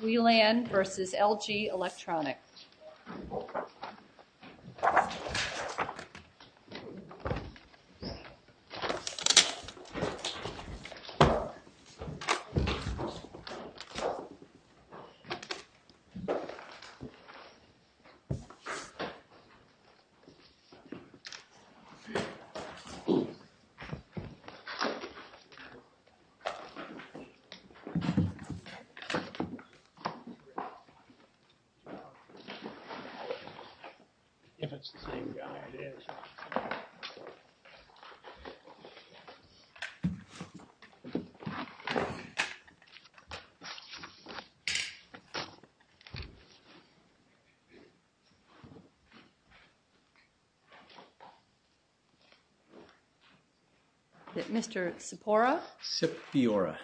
WI-LAN v. LG ELECTRONICS WI-LAN v. LG ELECTRONICS Mr. Cipiora, you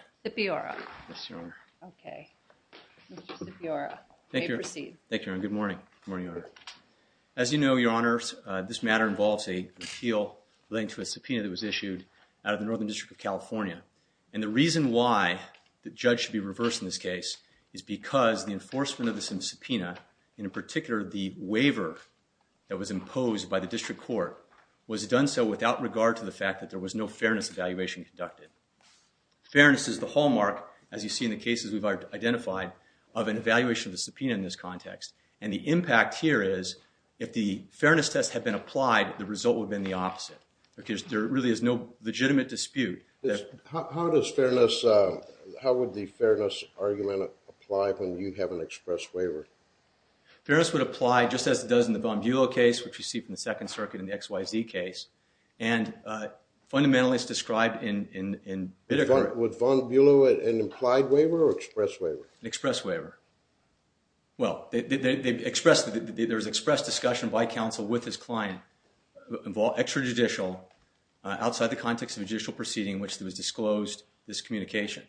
may proceed. Thank you, Your Honor. Good morning. Good morning, Your Honor. As you know, Your Honor, this matter involves a repeal relating to a subpoena that was issued out of the Northern District of California. And the reason why the judge should be reversed in this case is because the enforcement of this subpoena, and in particular, the waiver that was imposed by the District Court, was done so without regard to the fact that there was no fairness evaluation conducted. Fairness is the hallmark, as you see in the cases we've identified, of an evaluation of a subpoena in this context. And the impact here is, if the fairness tests had been applied, the result would have been the opposite. Because there really is no legitimate dispute. How would the fairness argument apply when you have an express waiver? Fairness would apply just as it does in the Von Buehle case, which you see from the Second Circuit in the XYZ case. And fundamentally, it's described in Bitter Court. Was Von Buehle an implied waiver or express waiver? Express waiver. Well, there was express discussion by counsel with his client, extrajudicial, outside the context of a judicial proceeding in which it was disclosed, this communication.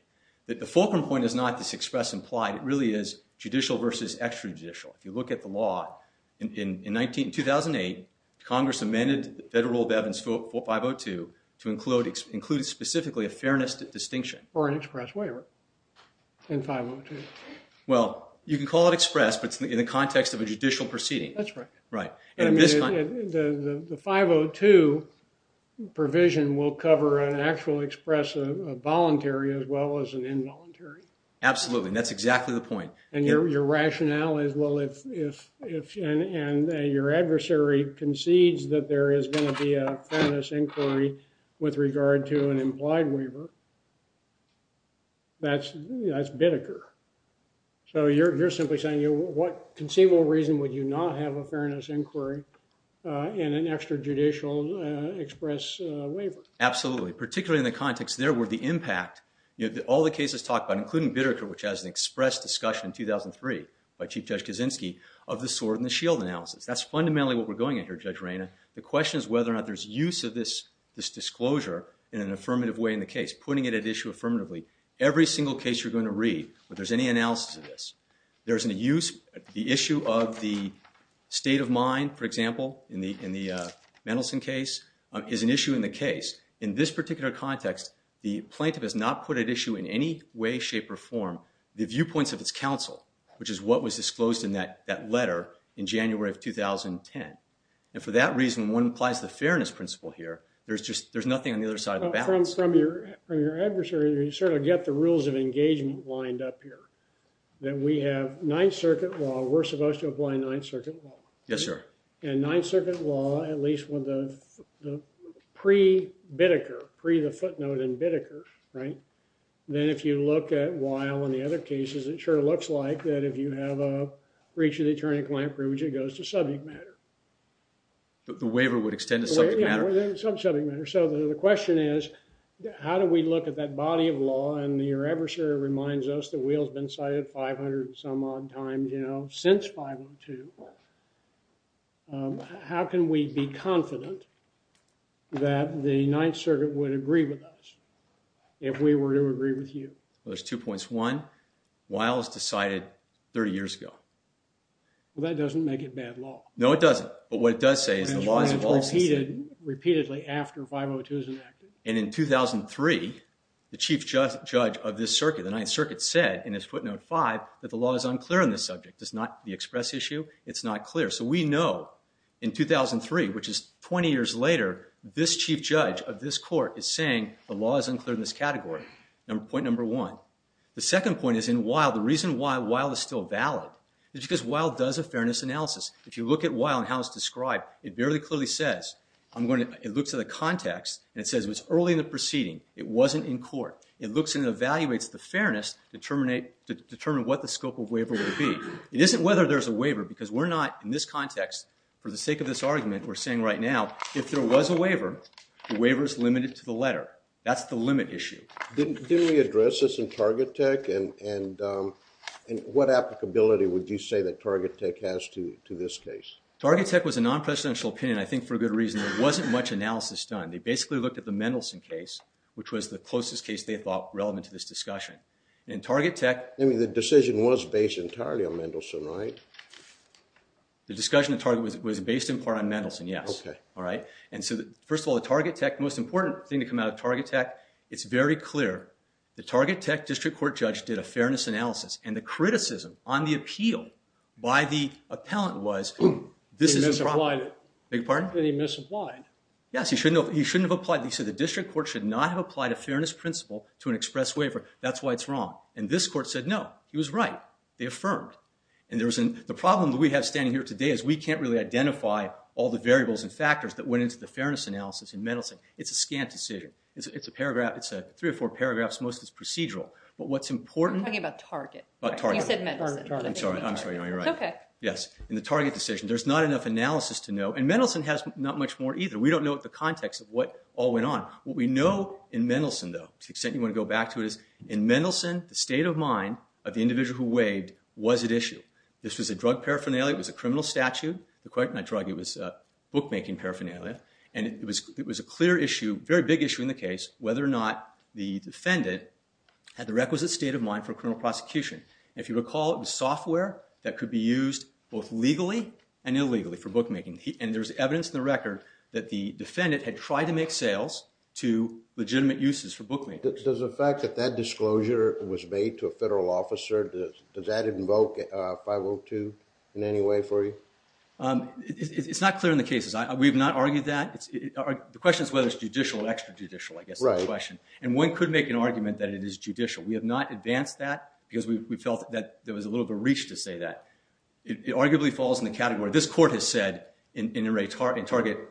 The fulcrum point is not this express implied. It really is judicial versus extrajudicial. If you look at the law, in 2008, Congress amended Federal Rule of Evidence 502 to include specifically a fairness distinction. Or an express waiver in 502. Well, you can call it express, but it's in the context of a judicial proceeding. That's right. Right. The 502 provision will cover an actual express of voluntary as well as an involuntary. Absolutely. And that's exactly the point. And your rationale is, well, if your adversary concedes that there is going to be a fairness inquiry with regard to an implied waiver, that's Bitter Court. So you're simply saying, what conceivable reason would you not have a fairness inquiry in an extrajudicial express waiver? Absolutely. Particularly in the context there where the impact, all the cases talked about, including Bitter Court, which has an express discussion in 2003 by Chief Judge Kaczynski, of the Sword and the Shield analysis. That's fundamentally what we're going at here, Judge Reyna. The question is whether or not there's use of this disclosure in an affirmative way in the case, putting it at issue affirmatively. Every single case you're going to read, whether there's any analysis of this, there's an issue of the state of mind, for example, in the Mendelson case, is an issue in the case. In this particular context, the plaintiff has not put at issue in any way, shape, or form the viewpoints of its counsel, which is what was disclosed in that letter in January of 2010. And for that reason, one applies the fairness principle here. There's nothing on the other side of the balance. From your adversary, you sort of get the rules of engagement lined up here, that we have Ninth Circuit law. We're supposed to apply Ninth Circuit law. Yes, sir. And Ninth Circuit law, at least with the pre-Bitteker, pre the footnote in Bitteker, right? Then if you look at Weil and the other cases, it sure looks like that if you have a breach of the attorney-client privilege, it goes to subject matter. The waiver would extend to subject matter? Yeah, subject matter. So the question is, how do we look at that body of law? And your adversary reminds us the wheel's been cited 500 and some odd times, you know, since 502. How can we be confident that the Ninth Circuit would agree with us if we were to agree with you? Well, there's two points. One, Weil was decided 30 years ago. Well, that doesn't make it bad law. No, it doesn't. But what it does say is the law is a policy. Repeatedly after 502 is enacted. And in 2003, the chief judge of this circuit, the Ninth Circuit, said in his footnote five that the law is unclear on this subject. It's not the express issue. It's not clear. So we know in 2003, which is 20 years later, this chief judge of this court is saying the law is unclear in this category. Point number one. The second point is in Weil, the reason why Weil is still valid is because Weil does a fairness analysis. If you look at Weil and how it's described, it very clearly says, it looks at the context, It wasn't in court. It looks and evaluates the fairness to determine what the scope of waiver would be. It isn't whether there's a waiver, because we're not, in this context, for the sake of this argument, we're saying right now, if there was a waiver, the waiver's limited to the letter. That's the limit issue. Didn't we address this in Target Tech? And what applicability would you say that Target Tech has to this case? Target Tech was a non-presidential opinion, I think, for good reason. There wasn't much analysis done. They basically looked at the Mendelson case, which was the closest case they thought relevant to this discussion. And in Target Tech, I mean, the decision was based entirely on Mendelson, right? The discussion in Target was based in part on Mendelson, yes. And so first of all, the Target Tech, the most important thing to come out of Target Tech, it's very clear, the Target Tech district court judge did a fairness analysis. And the criticism on the appeal by the appellant was, this is a problem. He misapplied it. Beg your pardon? He misapplied. Yes, he shouldn't have applied it. He said the district court should not have applied a fairness principle to an express waiver. That's why it's wrong. And this court said no. He was right. They affirmed. And the problem that we have standing here today is we can't really identify all the variables and factors that went into the fairness analysis in Mendelson. It's a scant decision. It's a paragraph. It's three or four paragraphs. Most of it's procedural. But what's important- I'm talking about Target. About Target. You said Mendelson. I'm sorry. I'm sorry. No, you're right. Yes. In the Target decision, there's not enough analysis to know. And Mendelson has not much more either. We don't know the context of what all went on. What we know in Mendelson, though, to the extent you want to go back to it, is in Mendelson, the state of mind of the individual who waived was at issue. This was a drug paraphernalia. It was a criminal statute. Not a drug. It was a bookmaking paraphernalia. And it was a clear issue, very big issue in the case, whether or not the defendant had the requisite state of mind for a criminal prosecution. And if you recall, it was software that could be used both legally and illegally for bookmaking. And there's evidence in the record that the defendant had tried to make sales to legitimate uses for bookmaking. Does the fact that that disclosure was made to a federal officer, does that invoke 502 in any way for you? It's not clear in the cases. We have not argued that. The question is whether it's judicial or extrajudicial, I guess, is the question. And one could make an argument that it is judicial. We have not advanced that, because we felt that there was a little bit of reach to say that. It arguably falls in the category. This court has said in In Re Target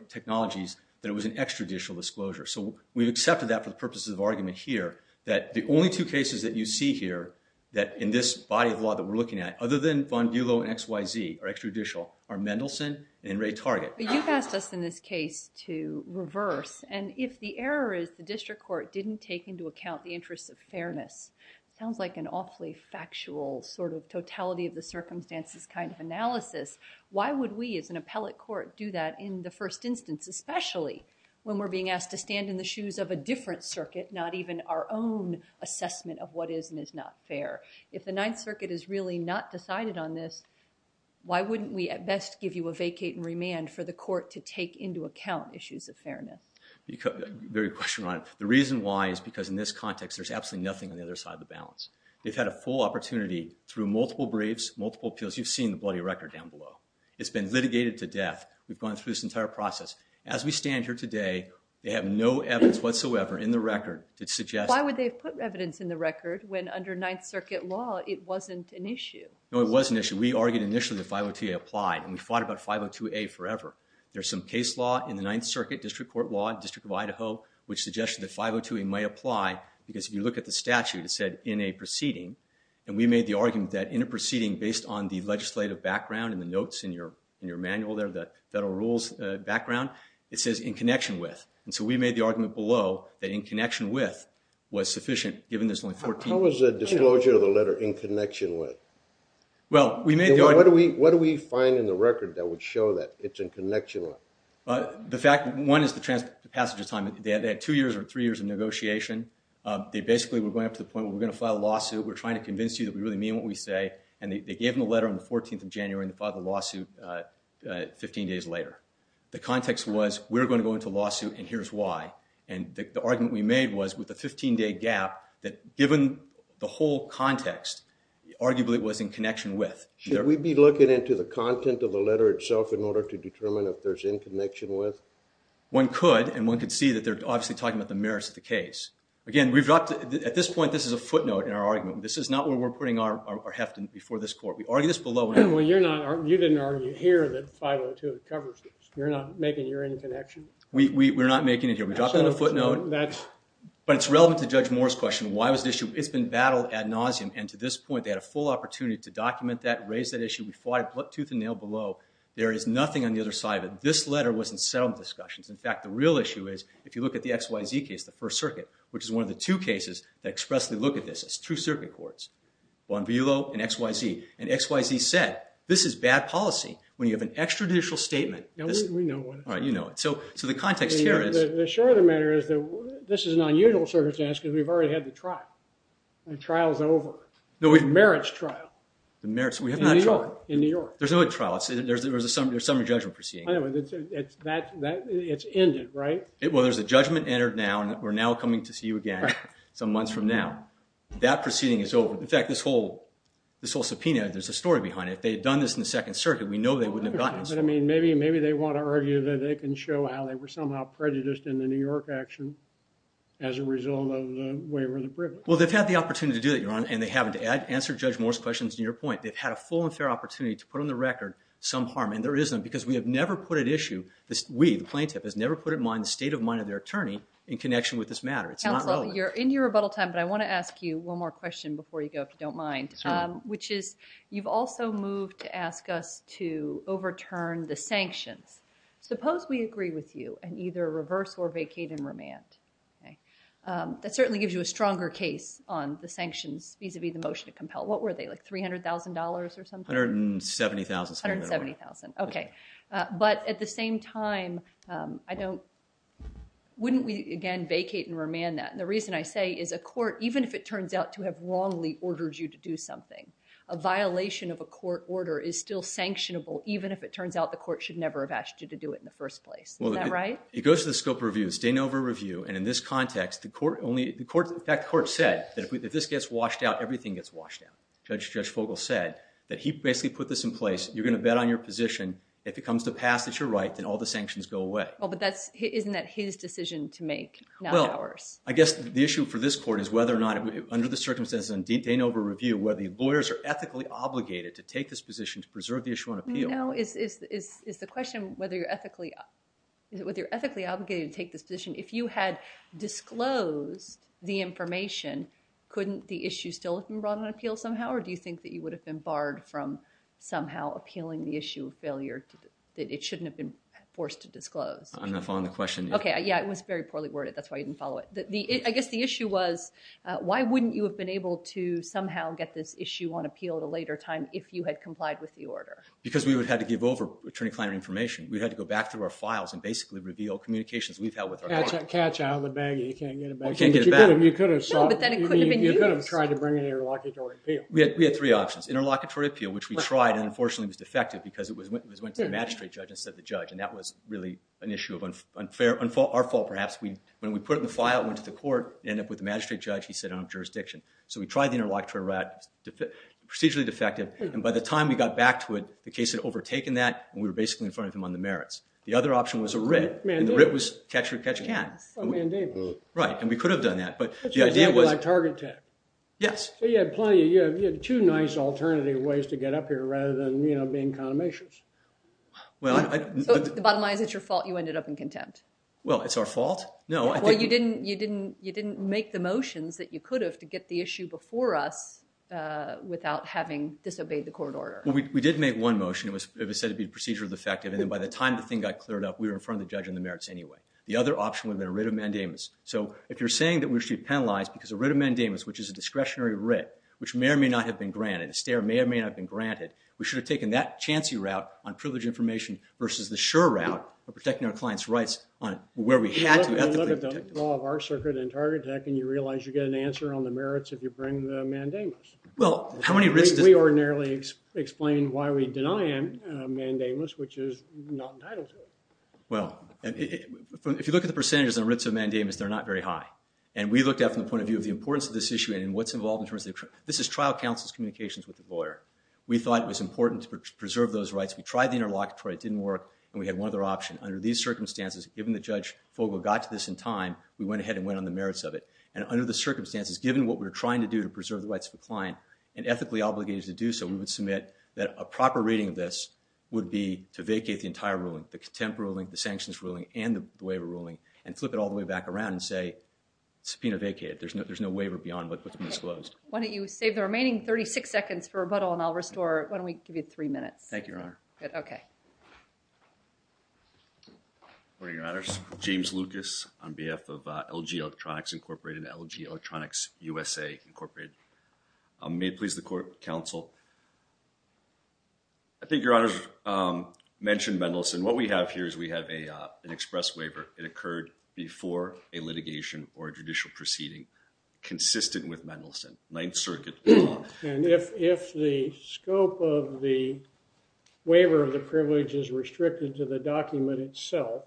Technologies that it was an extrajudicial disclosure. So we've accepted that for the purposes of argument here, that the only two cases that you see here that in this body of law that we're looking at, other than Von Dulo and XYZ are extrajudicial, are Mendelson and In Re Target. But you've asked us in this case to reverse. And if the error is the district court didn't take into account the interests of fairness, sounds like an awfully factual sort of totality of the circumstances kind of analysis. Why would we, as an appellate court, do that in the first instance, especially when we're being asked to stand in the shoes of a different circuit, not even our own assessment of what is and is not fair? If the Ninth Circuit is really not decided on this, why wouldn't we at best give you a vacate and remand for the court to take into account issues of fairness? Very question on it. The reason why is because in this context, there's absolutely nothing on the other side of the balance. They've had a full opportunity through multiple briefs, multiple appeals, you've seen the bloody record down below. It's been litigated to death. We've gone through this entire process. As we stand here today, they have no evidence whatsoever in the record that suggests Why would they put evidence in the record when under Ninth Circuit law, it wasn't an issue? No, it was an issue. We argued initially that 502A applied. And we fought about 502A forever. There's some case law in the Ninth Circuit, district court law, District of Idaho, which suggested that 502A might apply. Because if you look at the statute, it said, in a proceeding. And we made the argument that in a proceeding based on the legislative background and the notes in your manual there, the federal rules background, it says, in connection with. And so we made the argument below that in connection with was sufficient, given there's only 14. How was the disclosure of the letter in connection with? Well, we made the argument. What do we find in the record that would show that it's in connection with? The fact, one is the passage of time. They had two years or three years of negotiation. They basically were going up to the point where we're going to file a lawsuit. We're trying to convince you that we really mean what we say. And they gave them a letter on the 14th of January and filed the lawsuit 15 days later. The context was, we're going to go into a lawsuit, and here's why. And the argument we made was, with a 15-day gap, that given the whole context, arguably it was in connection with. Should we be looking into the content of the letter itself in order to determine if there's in connection with? One could. And one could see that they're obviously talking about the merits of the case. Again, at this point, this is a footnote in our argument. This is not where we're putting our heft before this court. We argue this below. Well, you didn't argue here that 502 covers this. You're not making your interconnection. We're not making it here. We dropped it on a footnote. But it's relevant to Judge Moore's question. Why was the issue? It's been battled ad nauseum. And to this point, they had a full opportunity to document that, raise that issue. We fought it tooth and nail below. There is nothing on the other side of it. This letter was in settlement discussions. In fact, the real issue is, if you look at the XYZ case, the First Circuit, which is one of the two cases that expressly look at this, it's two circuit courts, Bonvillo and XYZ. And XYZ said, this is bad policy when you have an extrajudicial statement. We know what it is. All right, you know it. So the context here is. The short of the matter is that this is an unusual circumstance because we've already had the trial. The trial's over. The merits trial. The merits. We have not tried. In New York. There's no trial. There's a summary judgment proceeding. It's ended, right? Well, there's a judgment entered now. And we're now coming to see you again some months from now. That proceeding is over. In fact, this whole subpoena, there's a story behind it. If they had done this in the Second Circuit, we know they wouldn't have gotten it. But I mean, maybe they want to argue that they can show how they were somehow prejudiced in the New York action as a result of the waiver of the privilege. Well, they've had the opportunity to do that, Your Honor. And they haven't. To answer Judge Moore's questions and your point, they've had a full and fair opportunity to put on the record some harm. And there isn't because we have never put at issue. We, the plaintiff, has never put at mind the state of mind of their attorney in connection with this matter. It's not relevant. Counsel, you're in your rebuttal time. But I want to ask you one more question before you go, if you don't mind. Which is, you've also moved to ask us to overturn the sanctions. Suppose we agree with you and either reverse or vacate and remand. That certainly gives you a stronger case on the sanctions vis-a-vis the motion to compel. What were they, like $300,000 or something? $170,000. $170,000. OK. But at the same time, I don't, wouldn't we, again, vacate and remand that? And the reason I say is a court, even if it turns out to have wrongly ordered you to do something, a violation of a court order is still sanctionable, even if it turns out the court should never have asked you to do it in the first place. Isn't that right? It goes to the scope of review. It's Danover Review. And in this context, the court only, that court said that if this gets washed out, everything gets washed out. Judge Fogel said that he basically put this in place. You're going to bet on your position. If it comes to pass that you're right, then all the sanctions go away. Well, but that's, isn't that his decision to make, not ours? Well, I guess the issue for this court is whether or not, under the circumstances of Danover Review, whether the lawyers are ethically obligated to take this position to preserve the issue on appeal. No, is the question whether you're ethically, whether you're ethically obligated to take this position. If you had disclosed the information, couldn't the issue still have been brought on appeal somehow? Or do you think that you would have been appealing the issue of failure, that it shouldn't have been forced to disclose? I'm not following the question. OK, yeah, it was very poorly worded. That's why you didn't follow it. I guess the issue was, why wouldn't you have been able to somehow get this issue on appeal at a later time if you had complied with the order? Because we would have had to give over attorney-client information. We had to go back through our files and basically reveal communications we've held with our client. Catch out of the baggy. You can't get it back. You can't get it back. No, but then it couldn't have been used. You could have tried to bring an interlocutory appeal. We had three options, interlocutory appeal, which we tried and, unfortunately, was defective because it went to the magistrate judge instead of the judge. And that was really an issue of our fault, perhaps. When we put it in the file, it went to the court. It ended up with the magistrate judge. He said, I don't have jurisdiction. So we tried the interlocutory route. It was procedurally defective. And by the time we got back to it, the case had overtaken that. And we were basically in front of him on the merits. The other option was a writ. A mandate. And the writ was catch or catch can. A mandate. Right, and we could have done that. But the idea was. That's exactly like target tech. Yes. So you had two nice alternative ways to get up here rather than being condemnations. Well, I. Bottom line is it's your fault you ended up in contempt. Well, it's our fault? No, I think. Well, you didn't make the motions that you could have to get the issue before us without having disobeyed the court order. Well, we did make one motion. It was said to be procedurally defective. And by the time the thing got cleared up, we were in front of the judge on the merits anyway. The other option would have been a writ of mandamus. So if you're saying that we should penalize because a writ of mandamus, which is a discretionary writ, which may or may not have been granted. And a stare may or may not have been granted. We should have taken that chancy route on privilege information versus the sure route of protecting our client's rights on where we had to ethically protect them. Well, look at the law of our circuit in target tech and you realize you get an answer on the merits if you bring the mandamus. Well, how many writs does. We ordinarily explain why we deny a mandamus, which is not entitled to it. Well, if you look at the percentages on writs of mandamus, they're not very high. And we looked at it from the point of view of the importance of this issue and what's involved in terms of. This is trial counsel's communications with the lawyer. We thought it was important to preserve those rights. We tried the interlocutory, it didn't work. And we had one other option. Under these circumstances, given that Judge Fogle got to this in time, we went ahead and went on the merits of it. And under the circumstances, given what we're trying to do to preserve the rights of the client and ethically obligated to do so, we would submit that a proper reading of this would be to vacate the entire ruling, the contempt ruling, the sanctions ruling, and the waiver ruling, and flip it all the way back around and say, subpoena vacated. There's no waiver beyond what's been disclosed. Why don't you save the remaining 36 seconds for rebuttal, and I'll restore. Why don't we give you three minutes? Thank you, Your Honor. Good, okay. Good morning, Your Honors. James Lucas on behalf of LG Electronics Incorporated, LG Electronics USA Incorporated. May it please the court, counsel. I think Your Honors mentioned Mendelson. What we have here is we have an express waiver. It occurred before a litigation or a judicial proceeding consistent with Mendelson, Ninth Circuit law. And if the scope of the waiver of the privilege is restricted to the document itself,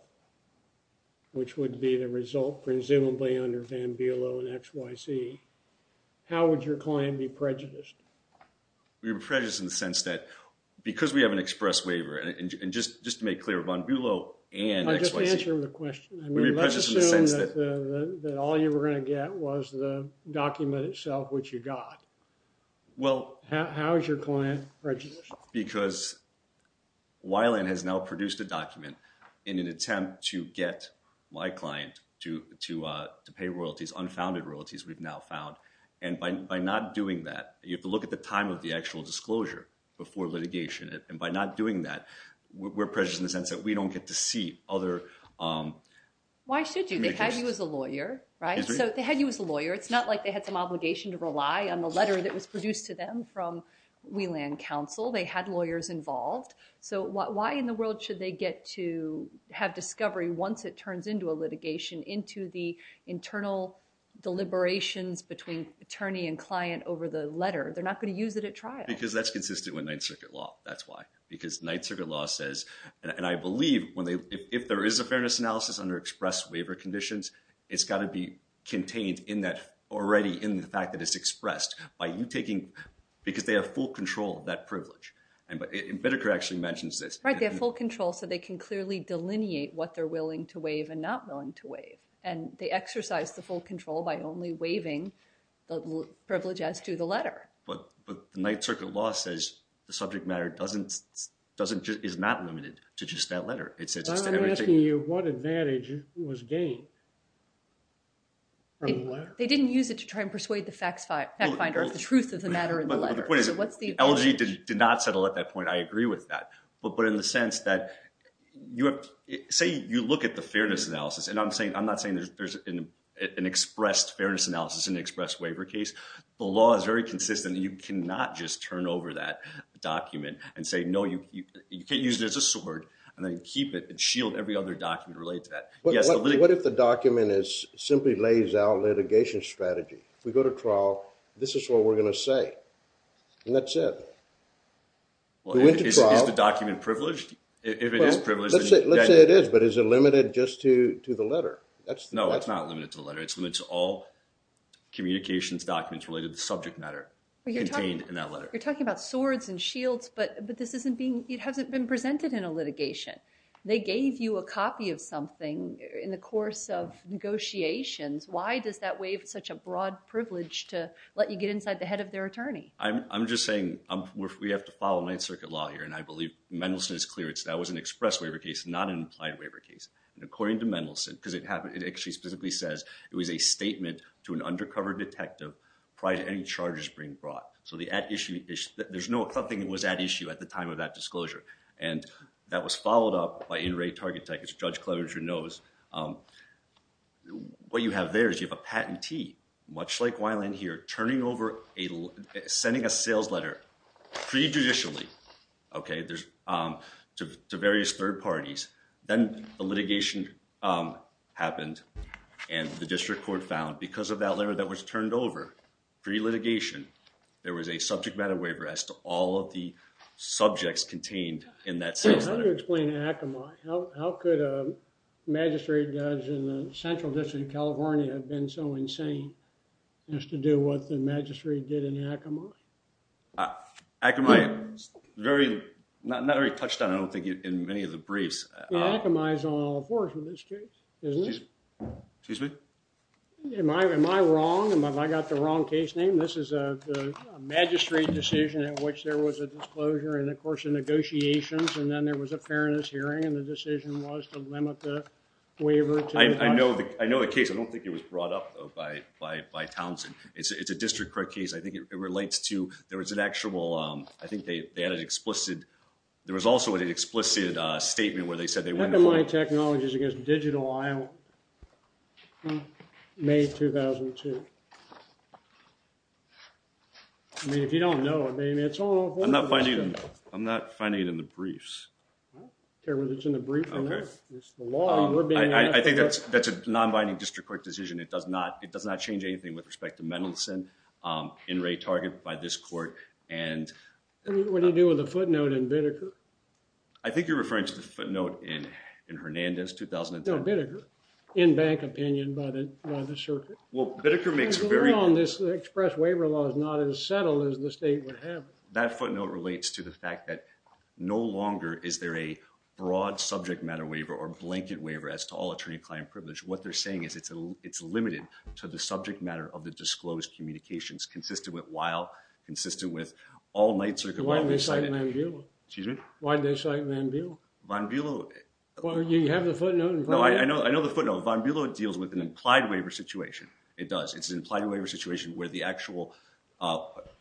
which would be the result presumably under Van Buelow and XYZ, how would your client be prejudiced? We would be prejudiced in the sense that because we have an express waiver, and just to make clear, Van Buelow and XYZ. I'll just answer the question. We'd be prejudiced in the sense that all you were going to get was the document itself, which you got. How is your client prejudiced? Because Weiland has now produced a document in an attempt to get my client to pay royalties, unfounded royalties we've now found. And by not doing that, you have to look at the time of the actual disclosure before litigation. And by not doing that, we're prejudiced in the sense that we don't get to see Why should you? They had you as a lawyer, right? So they had you as a lawyer. It's not like they had some obligation to rely on the letter that was produced to them from Weiland counsel. They had lawyers involved. So why in the world should they get to have discovery once it turns into a litigation into the internal deliberations between attorney and client over the letter? They're not going to use it at trial. Because that's consistent with Ninth Circuit law. That's why. Because Ninth Circuit law says, and I believe if there is a fairness analysis under express waiver conditions, it's got to be contained already in the fact that it's expressed by you taking, because they have full control of that privilege. Bidderker actually mentions this. Right, they have full control so they can clearly delineate what they're willing to waive and not willing to waive. And they exercise the full control by only waiving the privilege as to the letter. But Ninth Circuit law says the subject matter is not limited to just that letter. I'm asking you what advantage was gained from the letter. They didn't use it to try and persuade the fact finder of the truth of the matter in the letter. The LG did not settle at that point. I agree with that. But in the sense that, say you look at the fairness analysis, and I'm not saying there's an expressed fairness analysis in the express waiver case. The law is very consistent. You cannot just turn over that document and say, no, you can't use it as a sword and then keep it and shield every other document related to that. What if the document simply lays out litigation strategy? We go to trial, this is what we're going to say. And that's it. We went to trial. Is the document privileged? If it is privileged. Let's say it is, but is it limited just to the letter? No, it's not limited to the letter. It's limited to all communications documents related to the subject matter contained in that letter. You're talking about swords and shields, but this hasn't been presented in a litigation. They gave you a copy of something in the course of negotiations. Why does that waive such a broad privilege to let you get inside the head of their attorney? I'm just saying we have to follow Ninth Circuit law here, and I believe Mendelsohn is clear. That was an expressed waiver case, not an implied waiver case. According to Mendelsohn, because it actually specifically says it was a statement to an undercover detective prior to any charges being brought. So the at issue, there's no, nothing was at issue at the time of that disclosure. And that was followed up by In Re Targatech, as Judge Clevershire knows. What you have there is you have a patentee, much like Weiland here, turning over a, sending a sales letter pre-judicially, okay, to various third parties. Then the litigation happened, and the district court found, because of that letter that was turned over, pre-litigation, there was a subject matter waiver as to all of the subjects contained in that sales letter. How do you explain Akamai? How could a magistrate judge in the Central District of California have been so insane as to do what the magistrate did in Akamai? Akamai, very, not very touched on, I don't think in many of the briefs. Akamai is on all fours with this case. Isn't it? Excuse me? Am I wrong? Have I got the wrong case name? This is a magistrate decision in which there was a disclosure, and of course, the negotiations, and then there was a fairness hearing, and the decision was to limit the waiver. I know the case. I don't think it was brought up, though, by Townsend. It's a district court case. I think it relates to, there was an actual, I think they had an explicit, there was also an explicit statement where they said they wouldn't. Akamai Technologies against Digital, Iowa, May 2002. I mean, if you don't know it, maybe it's on all fours. I'm not finding it in the briefs. I don't care whether it's in the brief or not. It's the law. I think that's a non-binding district court decision. It does not change anything with respect to Mendelson, in Ray Target, by this court, and... What do you do with the footnote in Bideker? I think you're referring to the footnote in Hernandez, 2010. No, Bideker. In bank opinion, by the circuit. Well, Bideker makes very... The law on this express waiver law is not as settled as the state would have. That footnote relates to the fact that no longer is there a broad subject matter waiver or blanket waiver as to all attorney-client privilege. What they're saying is it's limited to the subject matter of the disclosed communications while consistent with all night circuit... Why did they cite Van Biel? Excuse me? Why did they cite Van Biel? Van Biel... Well, you have the footnote in front of you. No, I know the footnote. Van Biel deals with an implied waiver situation. It does. It's an implied waiver situation where the actual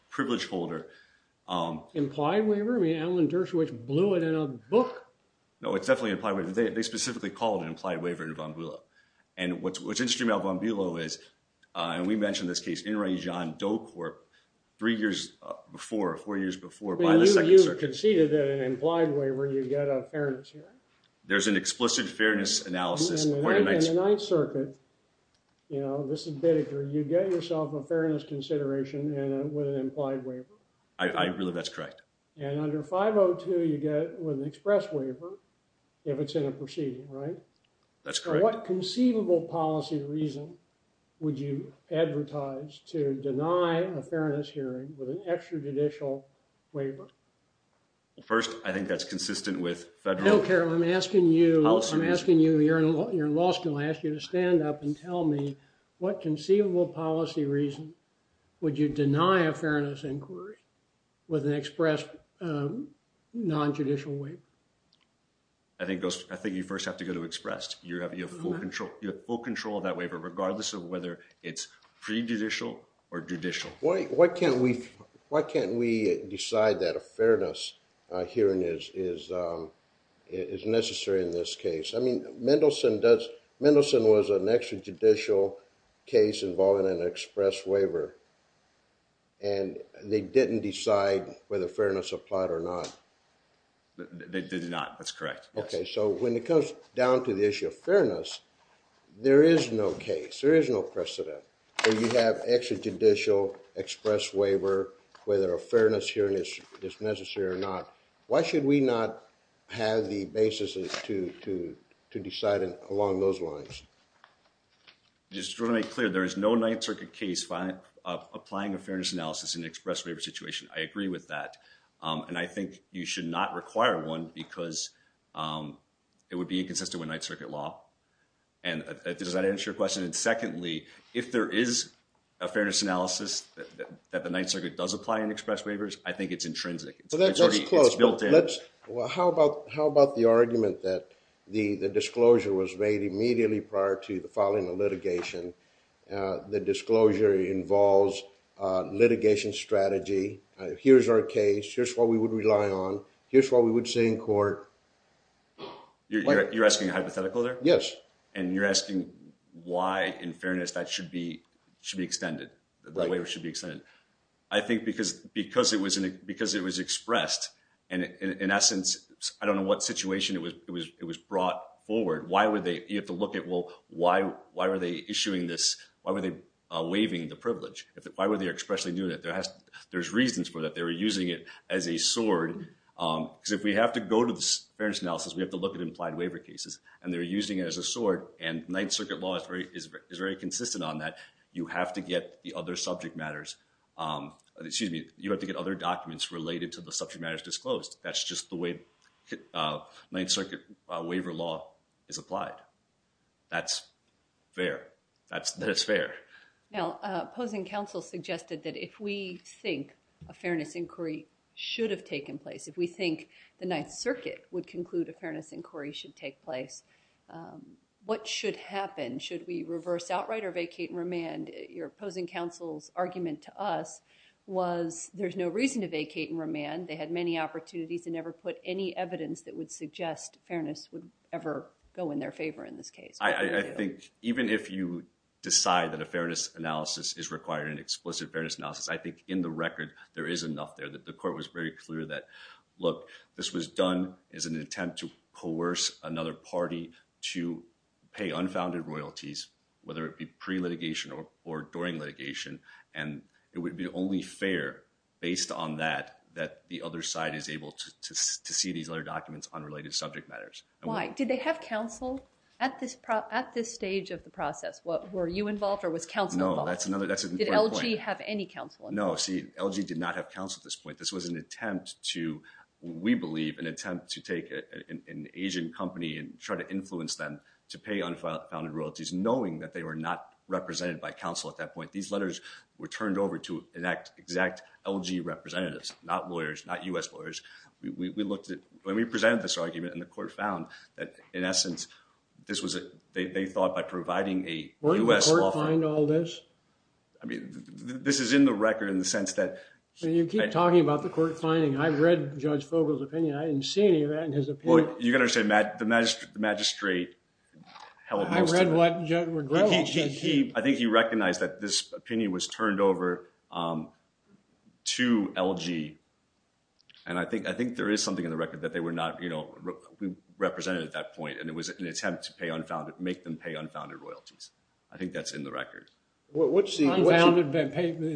privilege holder... Implied waiver? I mean, Alan Dershowitz blew it in a book. No, it's definitely implied waiver. They specifically call it an implied waiver in Van Biel. And what's interesting about Van Biel is, and we mentioned this case, in Ray John Doe Corp... Three years before, four years before... By the second circuit. You conceded an implied waiver. You get a fairness hearing. There's an explicit fairness analysis. In the ninth circuit... You know, this is Biddicker. You get yourself a fairness consideration with an implied waiver. I believe that's correct. And under 502, you get with an express waiver if it's in a proceeding, right? That's correct. What conceivable policy reason would you advertise to deny a fairness hearing with an extrajudicial waiver? First, I think that's consistent with federal... I don't care. I'm asking you... Policy reason. I'm asking you... You're in law school. I'm asking you to stand up and tell me what conceivable policy reason would you deny a fairness inquiry with an express non-judicial waiver? I think you first have to go to express. You have full control of that waiver regardless of whether it's pre-judicial or judicial. Why can't we decide that a fairness hearing is necessary in this case? I mean, Mendelson was an extrajudicial case involving an express waiver, and they didn't decide whether fairness applied or not. They did not. That's correct. Okay, so when it comes down to the issue of fairness, there is no case, there is no precedent where you have extrajudicial express waiver whether a fairness hearing is necessary or not. Why should we not have the basis to decide along those lines? Just want to make clear, there is no Ninth Circuit case applying a fairness analysis in an express waiver situation. I agree with that, and I think you should not require one because it would be inconsistent with Ninth Circuit law. Does that answer your question? And secondly, if there is a fairness analysis that the Ninth Circuit does apply in express waivers, I think it's intrinsic. It's already built in. How about the argument that the disclosure was made immediately prior to the filing of litigation, the disclosure involves litigation strategy, here's our case, here's what we would rely on, here's what we would say in court. You're asking a hypothetical there? Yes. And you're asking why, in fairness, that should be extended, the waiver should be extended. I think because it was expressed, and in essence, I don't know what situation it was brought forward, you have to look at why were they issuing this, why were they waiving the privilege? Why were they expressly doing it? There's reasons for that. They were using it as a sword because if we have to go to the fairness analysis, we have to look at implied waiver cases, and they're using it as a sword, and Ninth Circuit law is very consistent on that. You have to get the other subject matters, excuse me, you have to get other documents related to the subject matters disclosed. That's just the way Ninth Circuit waiver law is applied. That's fair. That is fair. Now, opposing counsel suggested that if we think a fairness inquiry should have taken place, if we think the Ninth Circuit would conclude that a fairness inquiry should take place, what should happen? Should we reverse outright or vacate and remand? Your opposing counsel's argument to us was there's no reason to vacate and remand. They had many opportunities and never put any evidence that would suggest fairness would ever go in their favor in this case. I think even if you decide that a fairness analysis is required, an explicit fairness analysis, I think in the record, there is enough there that the court was very clear that, look, this was done as an attempt to coerce another party to pay unfounded royalties, whether it be pre-litigation or during litigation, and it would be only fair based on that that the other side is able to see these other documents on related subject matters. Why? Did they have counsel at this stage of the process? Were you involved or was counsel involved? No, that's another point. Did LG have any counsel involved? No, see, LG did not have counsel at this point. This was an attempt to, we believe, an attempt to take an Asian company and try to influence them to pay unfounded royalties, knowing that they were not represented by counsel at that point. These letters were turned over to an exact LG representatives, not lawyers, not US lawyers. We looked at when we presented this argument, and the court found that, in essence, they thought by providing a US law firm. Where did the court find all this? I mean, this is in the record in the sense that. You keep talking about the court finding. I read Judge Fogle's opinion. I didn't see any of that in his opinion. You got to understand, the magistrate held most of it. I read what Judge McGrover said. I think he recognized that this opinion was turned over to LG, and I think there is something in the record that they were not represented at that point, and it was an attempt to make them pay unfounded royalties. I think that's in the record. What's unfounded?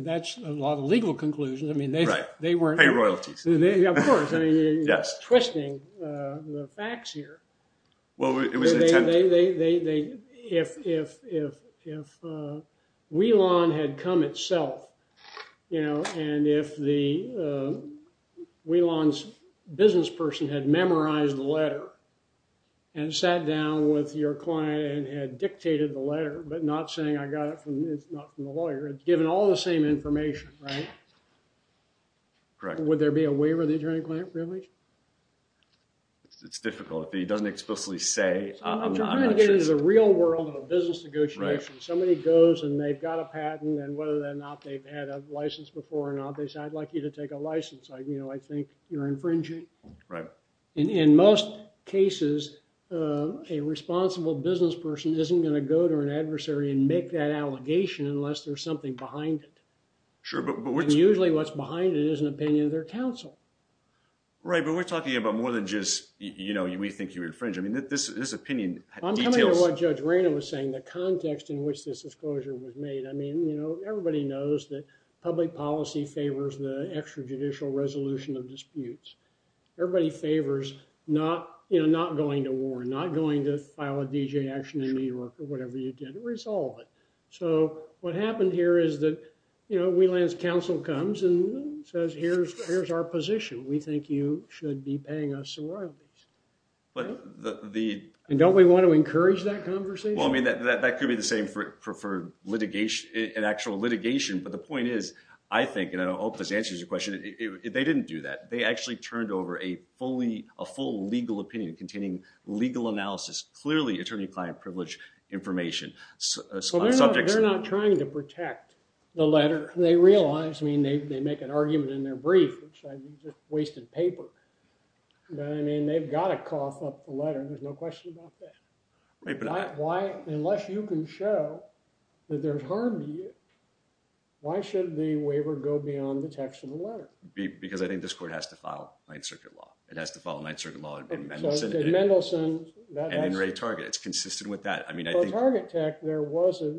That's a lot of legal conclusions. I mean, they weren't. Pay royalties. Of course. You're twisting the facts here. Well, it was an attempt to. If Whelan had come itself, and if Whelan's business person had memorized the letter and sat down with your client and had dictated the letter, but not saying I got it from the lawyer, it's given all the same information, right? Correct. Would there be a waiver of the attorney-client privilege? It's difficult. It doesn't explicitly say. What you're trying to get is a real world of a business negotiation. Somebody goes and they've got a patent, and whether or not they've had a license before or not, they say, I'd like you to take a license. I think you're infringing. Right. In most cases, a responsible business person isn't going to go to an adversary and make that allegation unless there's something behind it. Sure. But usually what's behind it is an opinion of their counsel. Right. But we're talking about more than just, you know, we think you infringed. I mean, this opinion details. I'm coming to what Judge Raynor was saying, the context in which this disclosure was made. I mean, you know, everybody knows that public policy favors the extrajudicial resolution of disputes. Everybody favors not, you know, not going to war, not going to file a DJ action in New York or whatever you did, resolve it. So what happened here is that, you know, Wheelan's counsel comes and says, here's our position. We think you should be paying us some royalties. And don't we want to encourage that conversation? Well, I mean, that could be the same for litigation, an actual litigation. But the point is I think, and I hope this answers your question. They didn't do that. They actually turned over a fully, a full legal opinion containing legal analysis, clearly attorney-client privilege information. They're not trying to protect the letter. They realize, I mean, they make an argument in their brief, which I mean, just wasted paper. I mean, they've got to cough up the letter. There's no question about that. Unless you can show that there's harm to you, why should the waiver go beyond the text of the letter? Because I think this court has to file ninth circuit law. It has to file a ninth circuit law in Mendelsohn. In Mendelsohn. And in Ray Target. It's consistent with that. I mean, I think. For Target Tech, there was a,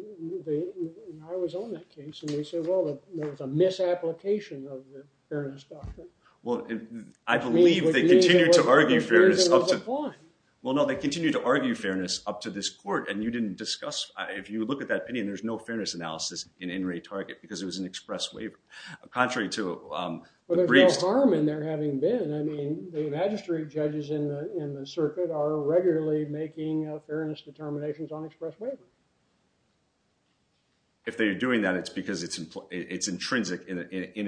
I was on that case. And they said, well, there was a misapplication of the fairness doctrine. Well, I believe they continue to argue fairness up to. Well, no, they continue to argue fairness up to this court. And you didn't discuss, if you look at that opinion, there's no fairness analysis in Ray Target because it was an express waiver. Contrary to the briefs. Well, there's no harm in there having been. I mean, the magistrate judges in the circuit are regularly making fairness determinations on express waiver. If they are doing that, it's because it's intrinsic in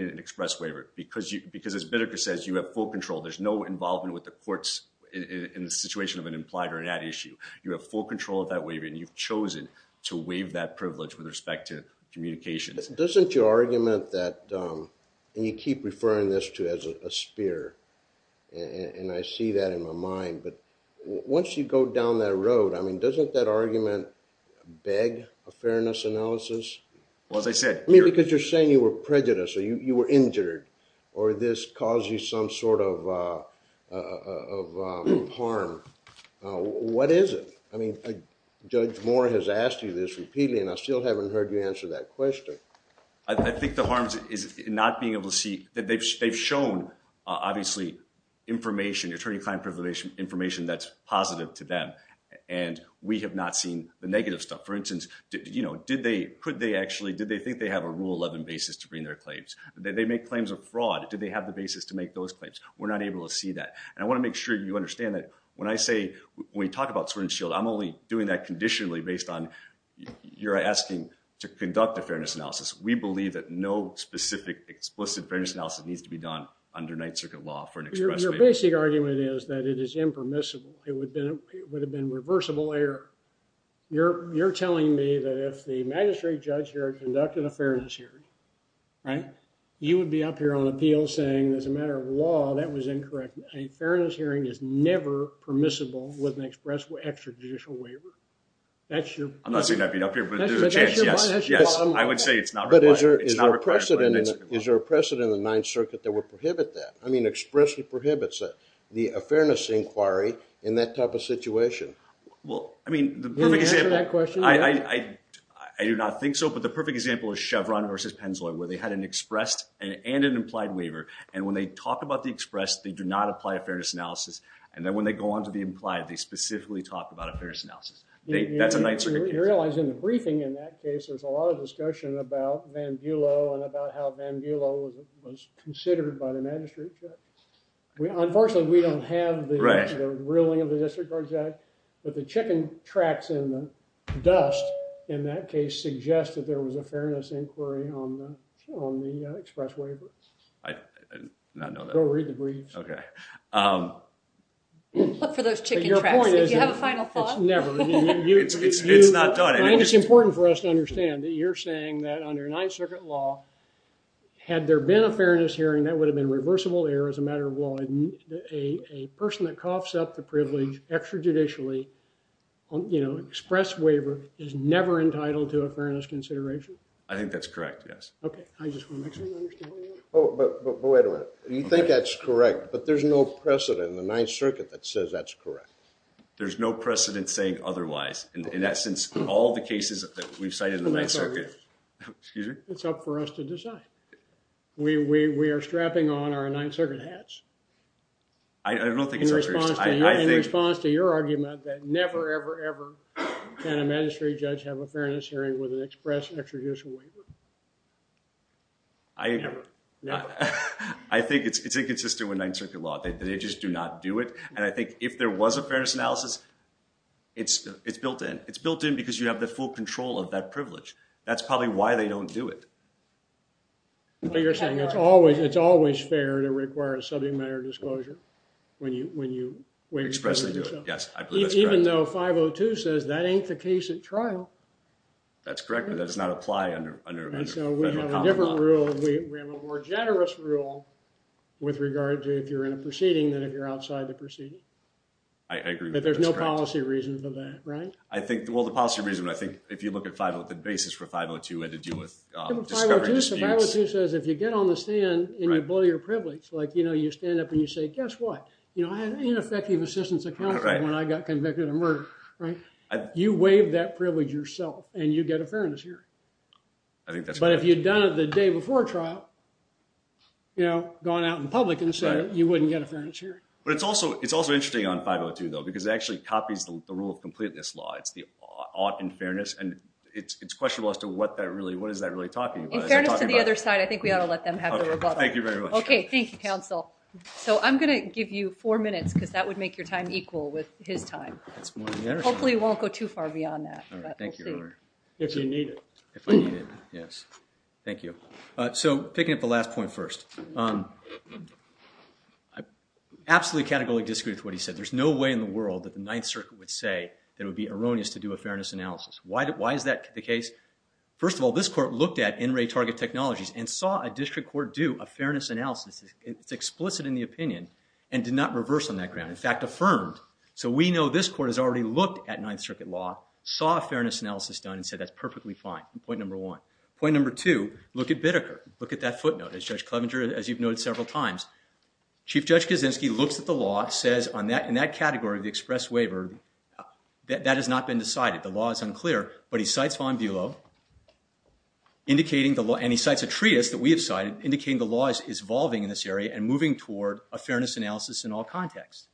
an express waiver. Because as Bittker says, you have full control. There's no involvement with the courts in the situation of an implied or an at issue. You have full control of that waiver. And you've chosen to waive that privilege with respect to communications. Doesn't your argument that, and you keep referring this to as a spear. And I see that in my mind. But once you go down that road, I mean, doesn't that argument beg a fairness analysis? Well, as I said. I mean, because you're saying you were prejudiced or you were injured or this caused you some sort of harm. What is it? I mean, Judge Moore has asked you this repeatedly and I still haven't heard you answer that question. I think the harm is not being able to see. They've shown, obviously, information, attorney-client information that's positive to them. And we have not seen the negative stuff. For instance, did they, could they actually, did they think they have a rule 11 basis to bring their claims? Did they make claims of fraud? Did they have the basis to make those claims? We're not able to see that. And I want to make sure you understand that when I say, when we talk about Swerd and Shield, I'm only doing that conditionally based on you're We believe that no specific explicit fairness analysis needs to be done under Ninth Circuit law for an express way. Your basic argument is that it is impermissible. It would have been reversible error. You're telling me that if the magistrate judge here conducted a fairness hearing, right? You would be up here on appeal saying as a matter of law, that was incorrect. A fairness hearing is never permissible with an express, extrajudicial waiver. I'm not saying I'd be up here, but there's a chance, yes. I would say it's not required. But is there a precedent in the Ninth Circuit that would prohibit that? I mean expressly prohibits the fairness inquiry in that type of situation. Well, I mean the perfect example. Do you answer that question? I do not think so. But the perfect example is Chevron versus Pennzoil, where they had an expressed and an implied waiver. And when they talk about the expressed, they do not apply a fairness analysis. And then when they go on to the implied, they specifically talk about a fairness analysis. That's a Ninth Circuit case. You realize in the briefing in that case, there's a lot of discussion about Van Bulo and about how Van Bulo was considered by the magistrate judge. Unfortunately, we don't have the ruling of the district court judge. But the chicken tracks in the dust in that case suggest that there was a fairness inquiry on the express waiver. I did not know that. Go read the briefs. Okay. Look for those chicken tracks. Do you have a final thought? It's not done. I think it's important for us to understand that you're saying that under Ninth Circuit law, had there been a fairness hearing, that would have been reversible error as a matter of law. A person that coughs up the privilege extrajudicially, you know, express waiver, is never entitled to a fairness consideration. I think that's correct, yes. Okay. I just want to make sure you understand what I mean. Oh, but wait a minute. You think that's correct, but there's no precedent in the Ninth Circuit that says that's correct. There's no precedent saying otherwise. In essence, all the cases that we've cited in the Ninth Circuit... It's up for us. Excuse me? It's up for us to decide. We are strapping on our Ninth Circuit hats. I don't think it's up for... In response to your argument that never, ever, ever, can a magistrate judge have a fairness hearing with an express extrajudicial waiver. I... Never. I think it's inconsistent with Ninth Circuit law. They just do not do it. And I think if there was a fairness analysis, it's built in. It's built in because you have the full control of that privilege. That's probably why they don't do it. But you're saying it's always fair to require a subject matter disclosure when you... Expressly do it, yes. I believe that's correct. Even though 502 says that ain't the case at trial. That's correct, but that does not apply under... And so, we have a different rule. We have a more generous rule with regard to if you're in a proceeding than if you're outside the proceeding. I agree with that. But there's no policy reason for that, right? Well, the policy reason, I think, if you look at 502, the basis for 502 had to do with discovery disputes. 502 says if you get on the stand and you blow your privilege, like, you know, you stand up and you say, guess what? You know, I had ineffective assistance of counsel when I got convicted of murder, right? You waive that privilege yourself and you get a fairness hearing. I think that's correct. But if you'd done it the day before trial, you know, gone out in public and said you wouldn't get a fairness hearing. But it's also interesting on 502, though, because it actually copies the rule of completeness law. It's the ought in fairness, and it's questionable as to what that really – what is that really talking about? In fairness to the other side, I think we ought to let them have the rebuttal. Thank you very much. Okay, thank you, counsel. So, I'm going to give you four minutes, because that would make your time equal with his time. Hopefully it won't go too far beyond that, but we'll see. If you need it. If I need it, yes. Thank you. So, picking up the last point first. Absolutely categorically disagree with what he said. There's no way in the world that the Ninth Circuit would say that it would be erroneous to do a fairness analysis. Why is that the case? First of all, this court looked at in-ray target technologies and saw a district court do a fairness analysis. It's explicit in the opinion and did not reverse on that ground. In fact, affirmed. So we know this court has already looked at Ninth Circuit law, saw a fairness analysis done, and said that's perfectly fine. Point number one. Point number two. Look at Bideker. Look at that footnote. As Judge Clevenger, as you've noted several times, Chief Judge Kaczynski looks at the law, says in that category of the express waiver, that has not been decided. The law is unclear. But he cites Von Bulow, and he cites a treatise that we have cited, indicating the law is evolving in this area and moving toward a fairness analysis in all contexts.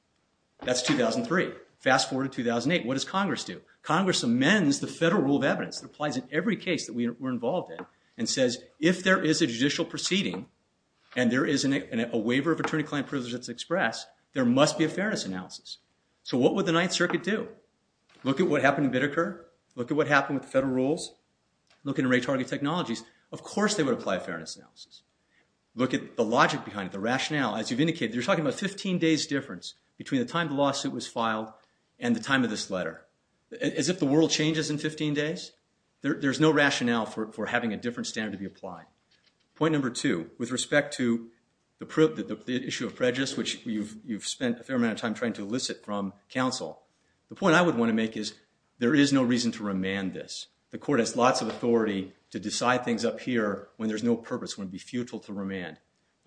That's 2003. Fast forward to 2008. What does Congress do? Congress amends the federal rule of evidence that applies in every case that we're involved in, and says if there is a judicial proceeding and there is a waiver of attorney-client privileges that's expressed, there must be a fairness analysis. So what would the Ninth Circuit do? Look at what happened in Bideker. Look at what happened with the federal rules. Look at array-target technologies. Of course they would apply a fairness analysis. Look at the logic behind it, the rationale. As you've indicated, you're talking about a 15-days difference between the time the lawsuit was filed and the time of this letter. As if the world changes in 15 days? There's no rationale for having a different standard to be applied. Point number two, with respect to the issue of prejudice, which you've spent a fair amount of time trying to elicit from counsel, the point I would want to make is there is no reason to remand this. The court has lots of authority to decide things up here when there's no purpose, when it would be futile to remand.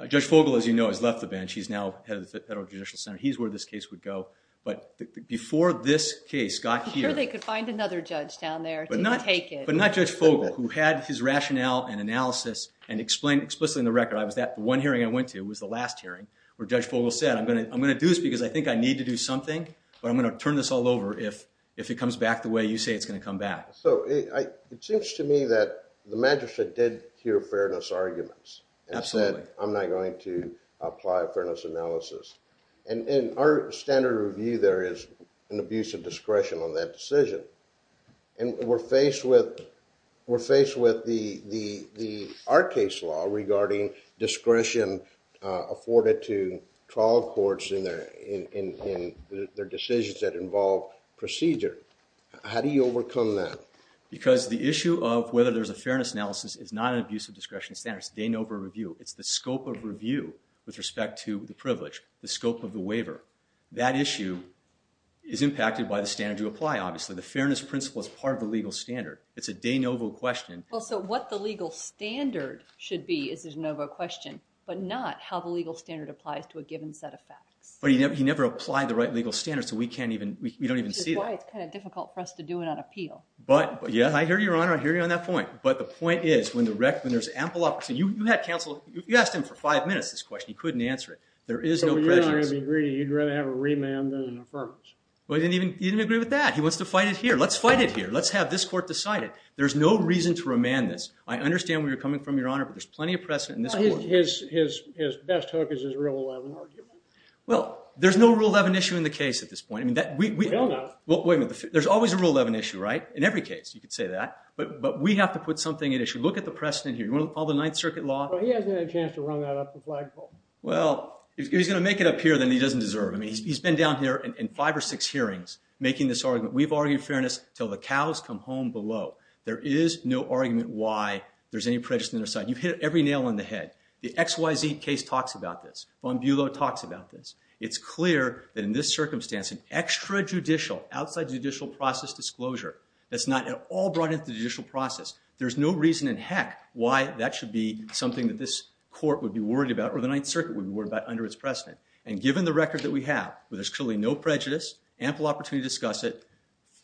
Judge Fogle, as you know, has left the bench. He's now head of the Federal Judicial Center. He's where this case would go. But before this case got here... I'm sure they could find another judge down there to take it. But not Judge Fogle, who had his rationale and analysis and explained explicitly in the record, the one hearing I went to was the last hearing, where Judge Fogle said, I'm going to do this because I think I need to do something, but I'm going to turn this all over if it comes back the way you say it's going to come back. So it seems to me that the magistrate did hear fairness arguments. Absolutely. And said, I'm not going to apply a fairness analysis. And in our standard review, there is an abuse of discretion on that decision. And we're faced with our case law regarding discretion afforded to trial courts in their decisions that involve procedure. How do you overcome that? Because the issue of whether there's a fairness analysis is not an abuse of discretion standard. It's the scope of review with respect to the privilege. The scope of the waiver. That issue is impacted by the standard you apply, obviously. The fairness principle is part of the legal standard. It's a de novo question. Well, so what the legal standard should be is a de novo question, but not how the legal standard applies to a given set of facts. But he never applied the right legal standards, so we don't even see that. Which is why it's kind of difficult for us to do it on appeal. But, yeah, I hear you, Your Honor. I hear you on that point. But the point is, when there's ample opportunity, you asked him for five minutes this question. He couldn't answer it. There is no prejudice. So you're not going to be greedy. You'd rather have a remand than an affirmance. Well, he didn't even agree with that. He wants to fight it here. Let's fight it here. Let's have this court decide it. There's no reason to remand this. I understand where you're coming from, Your Honor, but there's plenty of precedent in this court. His best hook is his Rule 11 argument. Well, there's no Rule 11 issue in the case at this point. Well, no. Well, wait a minute. There's always a Rule 11 issue, right? In every case, you could say that. But we have to put something at issue. Look at the precedent here. You want to follow the Ninth Circuit law? Well, he hasn't had a chance to run that up the flagpole. Well, if he's going to make it up here, then he doesn't deserve it. I mean, he's been down here in five or six hearings making this argument. We've argued fairness till the cows come home below. There is no argument why there's any prejudice on either side. You've hit every nail on the head. The XYZ case talks about this. Von Bulow talks about this. It's clear that in this circumstance, an extrajudicial, outside judicial process disclosure, that's not at all brought into the judicial process. There's no reason in heck why that should be something that this court would be worried about, or the Ninth Circuit would be worried about, under its precedent. And given the record that we have, where there's clearly no prejudice, ample opportunity to discuss it,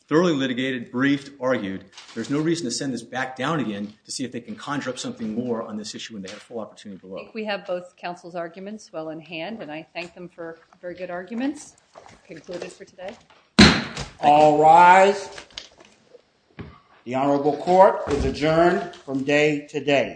thoroughly litigated, briefed, argued, there's no reason to send this back down again to see if they can conjure up something more on this issue when they have full opportunity to look. I think we have both counsel's arguments well in hand. And I thank them for very good arguments. Concluded for today. All rise. The Honorable Court is adjourned from day to day.